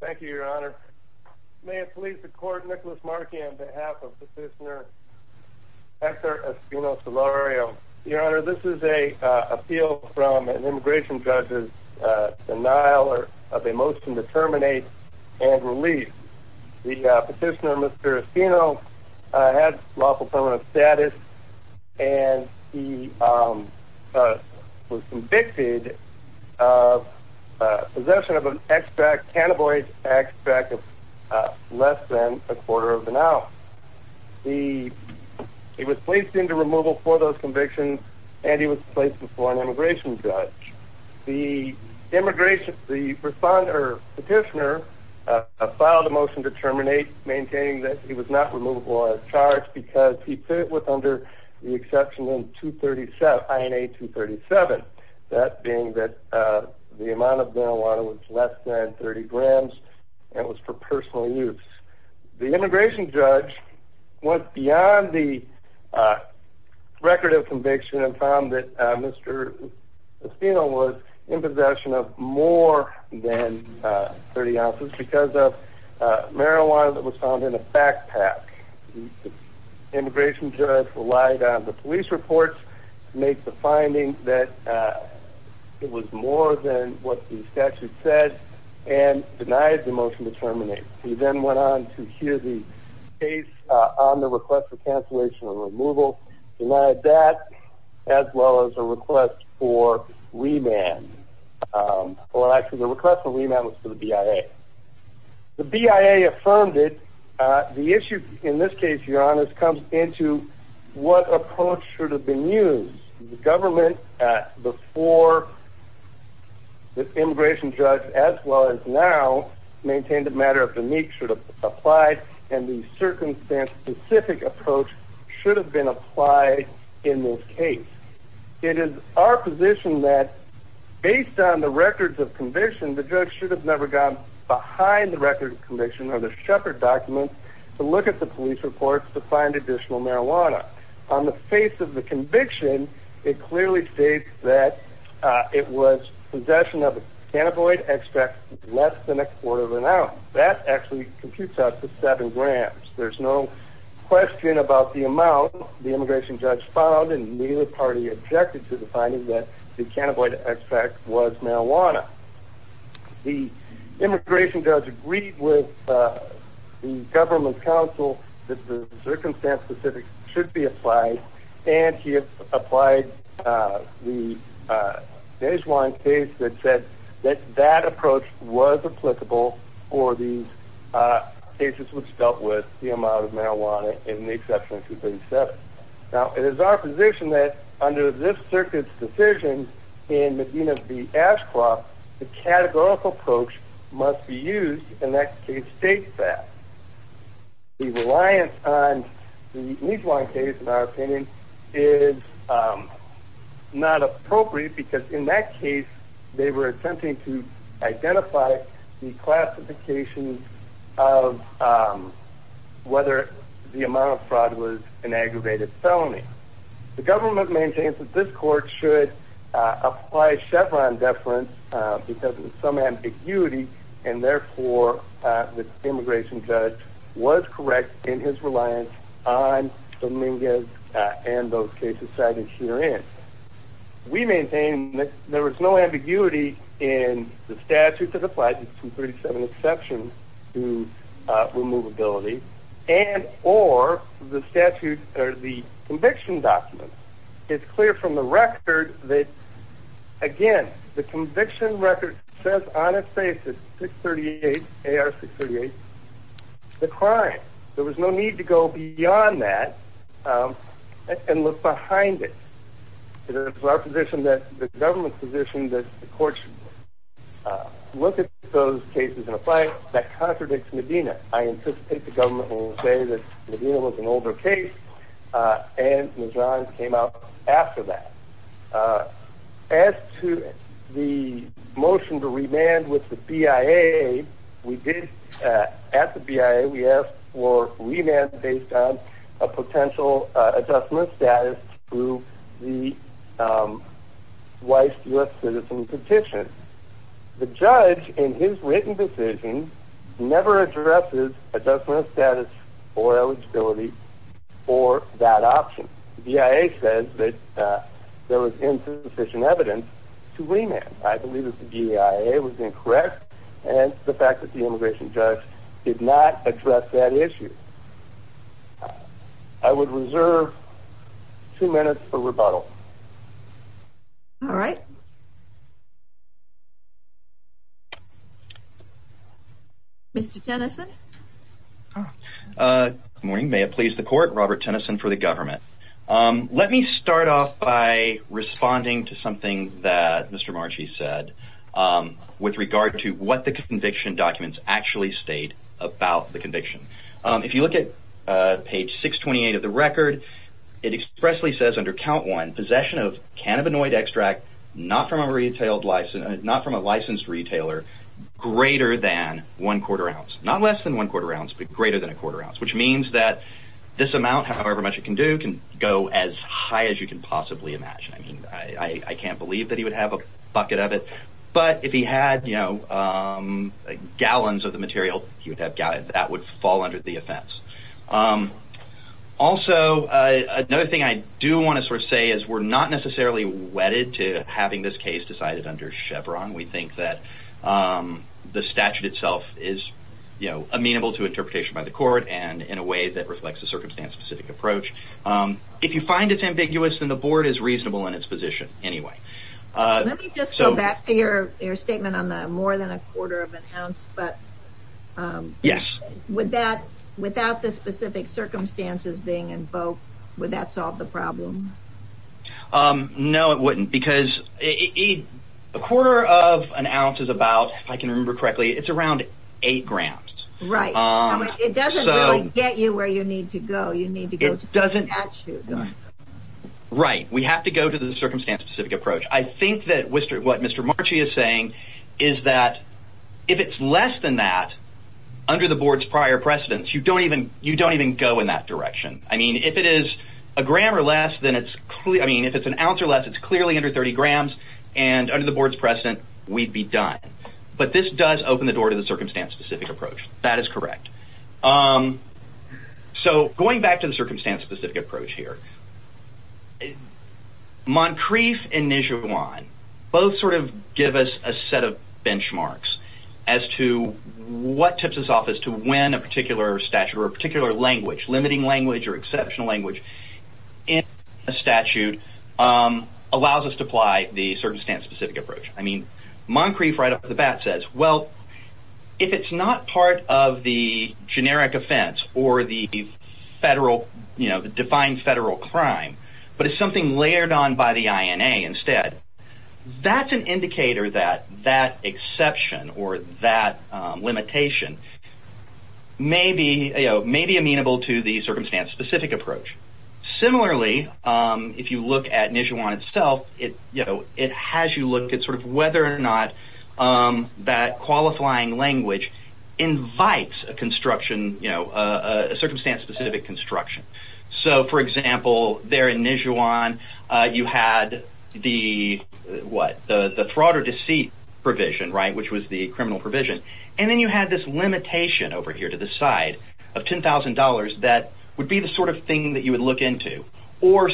Thank you, Your Honor. May it please the court, Nicholas Markey on behalf of Petitioner Hector Espino Solorio. Your Honor, this is an appeal from an immigration judge's denial of a motion to terminate and release. The petitioner, Mr. Espino, had lawful permanent status and he was convicted of possession of an extract, cannabinoid extract, of less than a quarter of an ounce. He was placed into removal for those convictions and he was placed before an immigration judge. The petitioner filed a motion to terminate, maintaining that he was not the exception in INA 237, that being that the amount of marijuana was less than 30 grams and was for personal use. The immigration judge went beyond the record of conviction and found that Mr. Espino was in possession of more than 30 ounces because of marijuana that was found in a the police reports to make the finding that it was more than what the statute said and denied the motion to terminate. He then went on to hear the case on the request for cancellation of removal, denied that, as well as a request for remand. Well, actually, the request for remand was the BIA. The BIA affirmed it. The issue in this case, your honor, comes into what approach should have been used. The government before the immigration judge, as well as now, maintained a matter of the nature of applied and the circumstance-specific approach should have been applied in this case. It is our position that based on the records of conviction, the judge should have never gone behind the record of conviction or the Shepard documents to look at the police reports to find additional marijuana. On the face of the conviction, it clearly states that it was possession of a cannabinoid extract less than a quarter of an ounce. That actually computes out to seven grams. There's no question about the amount the immigration judge found and neither party objected to the finding that the cannabinoid extract was marijuana. The immigration judge agreed with the government counsel that the circumstance-specific should be applied and he applied the Desjuan case that said that that approach was applicable for these cases which dealt with the amount of marijuana in the exception of 237. Now it is our position that under this circuit's decision in Medina v. Ashcroft, the categorical approach must be used and that case states that. The reliance on the Desjuan case, in our opinion, is not appropriate because in that case they were attempting to identify the classification of whether the amount of fraud was an aggravated felony. The government maintains that this court should apply Chevron deference because of some ambiguity and therefore the immigration judge was correct in his reliance on Dominguez and those cases cited herein. We maintain that there was no ambiguity in the statute that applies to 237 exception to removability and or the statute or the conviction documents. It's clear from the record that again the conviction record says on its basis 638 AR 638 the crime. There was no need to go beyond that and look behind it. It is our position that the government's position that the court should look at those cases in a way that contradicts Medina. I anticipate the government will say that Medina was an older case and Desjuan came out after that. As to the motion to remand with the BIA, we did at the BIA we asked for remand based on a potential adjustment status to the U.S. citizen petition. The judge in his written decision never addresses adjustment status or eligibility for that option. The BIA says that there was insufficient evidence to remand. I believe that the BIA was incorrect and the fact that the immigration judge did not address that issue. I would reserve two minutes for rebuttal. All right. Mr. Tennyson. Good morning. May it please the court. Robert Tennyson for the government. Let me start off by responding to something that Mr. Marchese said with regard to what the conviction documents actually state about the conviction. If you look at page 628 of the record, it expressly says under count one possession of cannabinoid extract not from a licensed retailer greater than one quarter ounce. Not less than one quarter ounce which means this amount can go as high as you can possibly imagine. I can't believe he would have a bucket of it. If he had gallons of the material, that would fall under the offense. Also, another thing I do want to say is we're not necessarily wedded to having this case decided under Chevron. We think that the statute itself is amenable to interpretation by the court and in a way that reflects the circumstance specific approach. If you find it ambiguous, then the board is reasonable in its position anyway. Let me just go back to your statement on the more than a quarter of an ounce. Yes. Without the specific circumstances being invoked, would that solve the problem? No, it wouldn't because a quarter of an ounce is about, if I can remember correctly, it's around eight grand. Right. It doesn't really get you where you need to go. You need to go to the statute. Right. We have to go to the circumstance specific approach. I think that what Mr. Marchese is saying is that if it's less than that, under the board's prior precedence, you don't even go in that direction. If it is a gram or less, if it's an ounce or less, it's clearly under 30 grams and under the board's precedent, we'd be done. This does open the door to the circumstance specific approach. That is correct. Going back to the circumstance specific approach here, Moncrief and Nijewan both give us a set of benchmarks as to what tips us off as to when a particular statute or a particular language, limiting language or exceptional language, in a statute allows us to apply the circumstance specific approach. I mean, Moncrief right off the bat says, well, if it's not part of the generic offense or the defined federal crime, but it's layered on by the INA instead, that's an indicator that that exception or that limitation may be amenable to the circumstance specific approach. Similarly, if you look at Nijewan itself, it has you look at whether or not that qualifying language invites a circumstance construction. For example, there in Nijewan, you had the fraud or deceit provision, which was the criminal provision. Then you had this limitation over here to the side of $10,000 that would be the sort of thing that you would look into.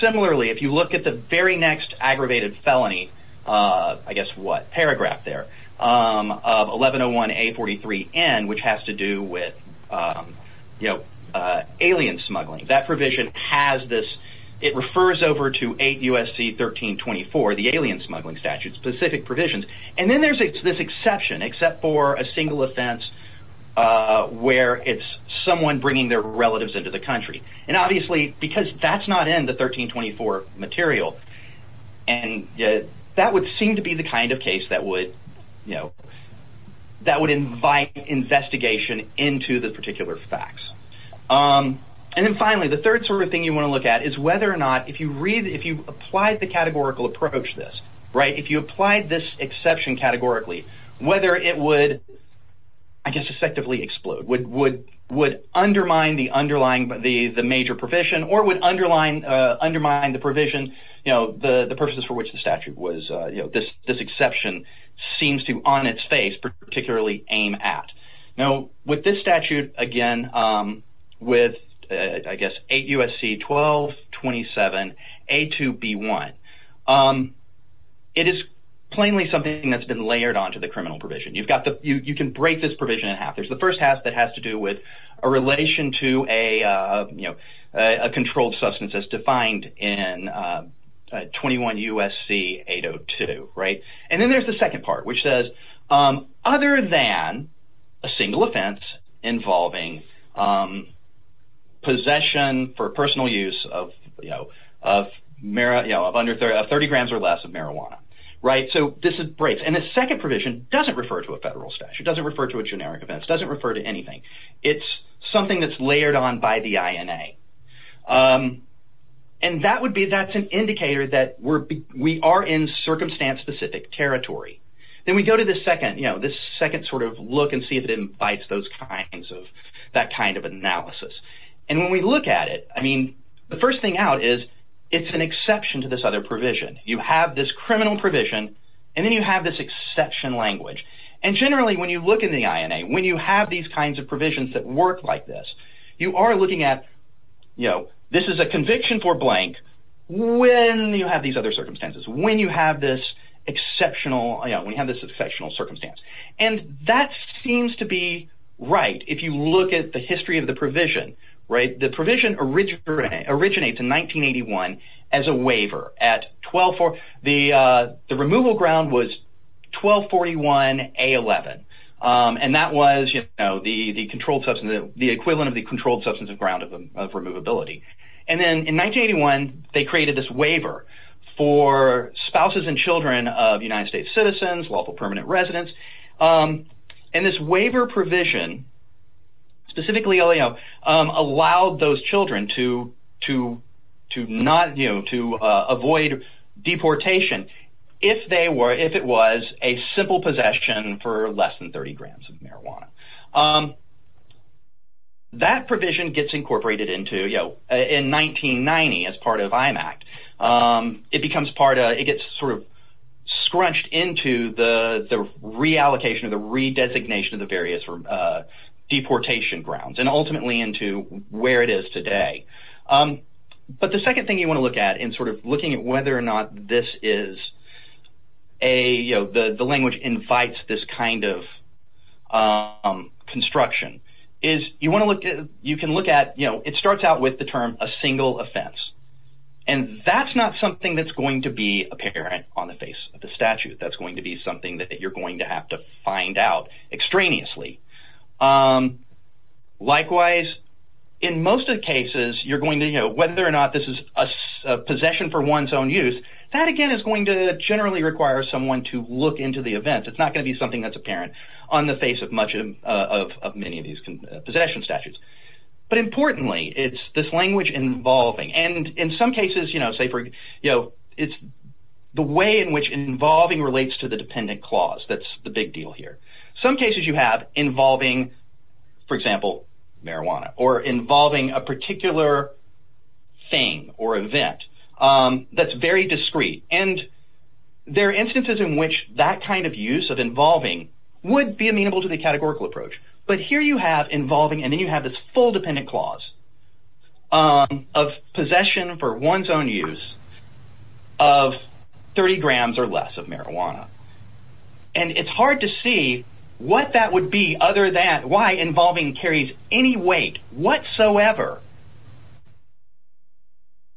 Similarly, if you look at the very next aggravated felony, I guess what paragraph there of 1101A43N, which has to do with alien smuggling, that provision has this, it refers over to 8 U.S.C. 1324, the alien smuggling statute, specific provisions. Then there's this exception, except for a single offense where it's someone bringing their relatives into the country. Obviously, because that's not in the that would seem to be the kind of case that would, you know, that would invite investigation into the particular facts. And then finally, the third sort of thing you want to look at is whether or not, if you read, if you apply the categorical approach this, right, if you applied this exception categorically, whether it would, I guess, effectively explode, would undermine the underlying, the major provision or would underline, undermine the provision, you know, the purposes for which the statute was, you know, this exception seems to on its face particularly aim at. Now, with this statute, again, with, I guess, 8 U.S.C. 1227A2B1, it is plainly something that's been layered onto the criminal provision. You've got the, you can break this provision in half. There's the first half that has to do with a relation to a, you know, a controlled substance as defined in 21 U.S.C. 802, right? And then there's the second part, which says, other than a single offense involving possession for personal use of, you know, of marijuana, you know, of under 30 grams or less of marijuana, right? So this breaks. And the second provision doesn't refer to a federal statute. It doesn't refer to a generic offense. It doesn't refer to anything. It's something that's layered on by the INA. And that would be, that's an indicator that we're, we are in circumstance-specific territory. Then we go to the second, you know, this second sort of look and see if it invites those kinds of, that kind of analysis. And when we look at it, I mean, the first thing out is it's an exception to this other provision. You have this criminal provision and then you have this exception language. And generally, when you look in the INA, when you have these kinds of provisions that work like this, you are looking at, you know, this is a conviction for blank when you have these other circumstances, when you have this exceptional, you know, when you have this exceptional circumstance. And that seems to be right. If you look at the history of the provision, right, the provision originates in 1981 as a waiver at 12, the removal ground was 1241A11. And that was, you know, the controlled substance, the equivalent of the controlled substance of ground of them, of removability. And then in 1981, they created this waiver for spouses and children of United States citizens, lawful permanent residents. And this waiver provision, specifically LAO, allowed those to avoid deportation if they were, if it was a simple possession for less than 30 grams of marijuana. That provision gets incorporated into, you know, in 1990 as part of IMACT. It becomes part of, it gets sort of scrunched into the reallocation or the redesignation of the various deportation grounds and ultimately into where it is today. But the second thing you want to look at in sort of looking at whether or not this is a, you know, the language invites this kind of construction is you want to look at, you can look at, you know, it starts out with the term a single offense. And that's not something that's going to be apparent on the face of the statute. That's going to be something that you're going to have to find out extraneously. Likewise, in most of the cases, you're going to, you know, whether or not this is a possession for one's own use, that again is going to generally require someone to look into the event. It's not going to be something that's apparent on the face of much of many of these possession statutes. But importantly, it's this language involving. And in some cases, you know, say for, you know, it's the way in which involving relates to the dependent clause. That's the big deal here. Some cases you have involving, for example, marijuana or involving a particular thing or event that's very discreet. And there are instances in which that kind of use of involving would be amenable to the categorical approach. But here you have involving and then you have this full dependent clause of possession for one's own use of 30 grams or less of marijuana. And it's hard to see what that would be other than why involving carries any weight whatsoever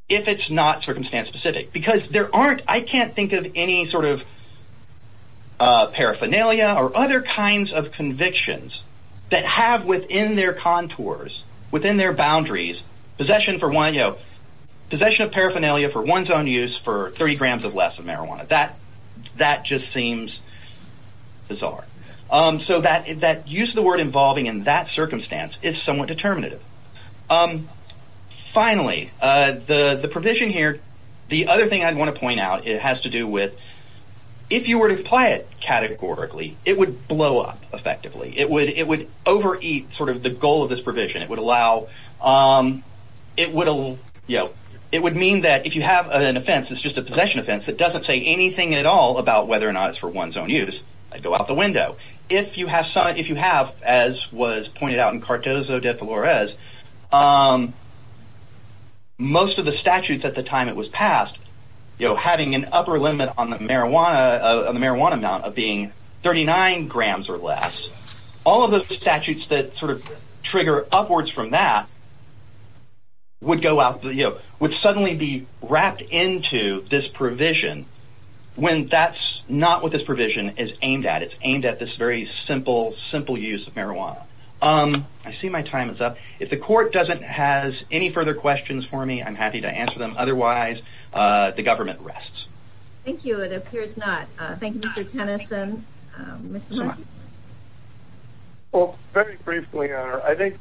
if it's not circumstance specific. Because there aren't, I can't think of any sort of paraphernalia or other kinds of convictions that have within their contours, within their boundaries, possession for one, you know, possession of paraphernalia for one's own use for 30 grams or less of marijuana. That just seems bizarre. So that use of the word involving in that circumstance is somewhat determinative. Finally, the provision here, the other thing I'd want to point out, it has to do with if you were to apply it categorically, it would blow up effectively. It would overeat sort of the goal of this provision. It would allow, you know, it would mean that if you have an offense, it's just a possession offense, it doesn't say anything at all about whether or not it's for one's own use. I'd go out the window. If you have, as was pointed out in Cartozo de Flores, most of the statutes at the time it was passed, you know, having an upper limit on the marijuana amount of being 39 grams or less, all of those statutes that sort of trigger upwards from that would go out, you know, would suddenly be wrapped into this provision when that's not what this provision is aimed at. It's aimed at this very simple, simple use of marijuana. I see my time is up. If the court doesn't have any further questions for me, I'm happy to answer them. Otherwise, the government rests. Thank you. It appears not. Thank you, Mr. Tennyson. Well, very briefly, I think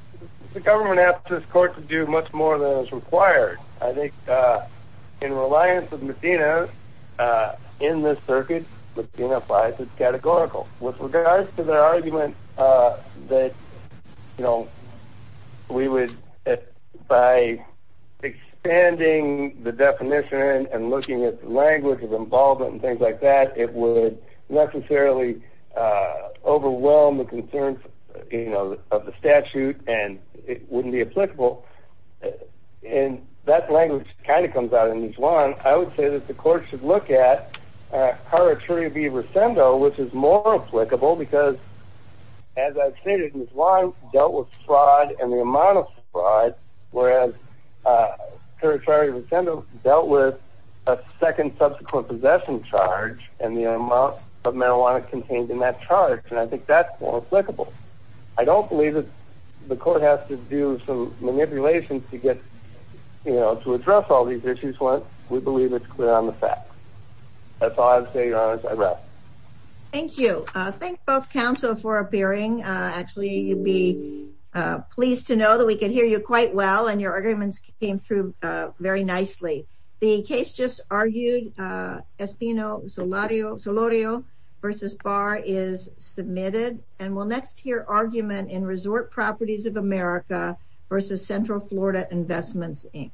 the government asked this court to do much more than was required. I think in reliance of Medina in this circuit, Medina applies it categorically. With regards to their argument that, you know, we would, by expanding the definition and looking at language of involvement and things like that, it would necessarily overwhelm the concerns, you know, of the statute and it wouldn't be applicable. And that language kind of comes out in each one. I would say that the court should look at which is more applicable because, as I've stated, Ms. Lyons dealt with fraud and the amount of fraud, whereas dealt with a second subsequent possession charge and the amount of marijuana contained in that charge. And I think that's more applicable. I don't believe that the court has to do some relations to get, you know, to address all these issues. We believe it's clear on the fact. That's all I have to say, Your Honor. I rest. Thank you. Thank both counsel for appearing. Actually, you'd be pleased to know that we can hear you quite well and your arguments came through very nicely. The case just argued, Espino Solorio v. Barr is submitted and we'll hear argument in Resort Properties of America v. Central Florida Investments, Inc.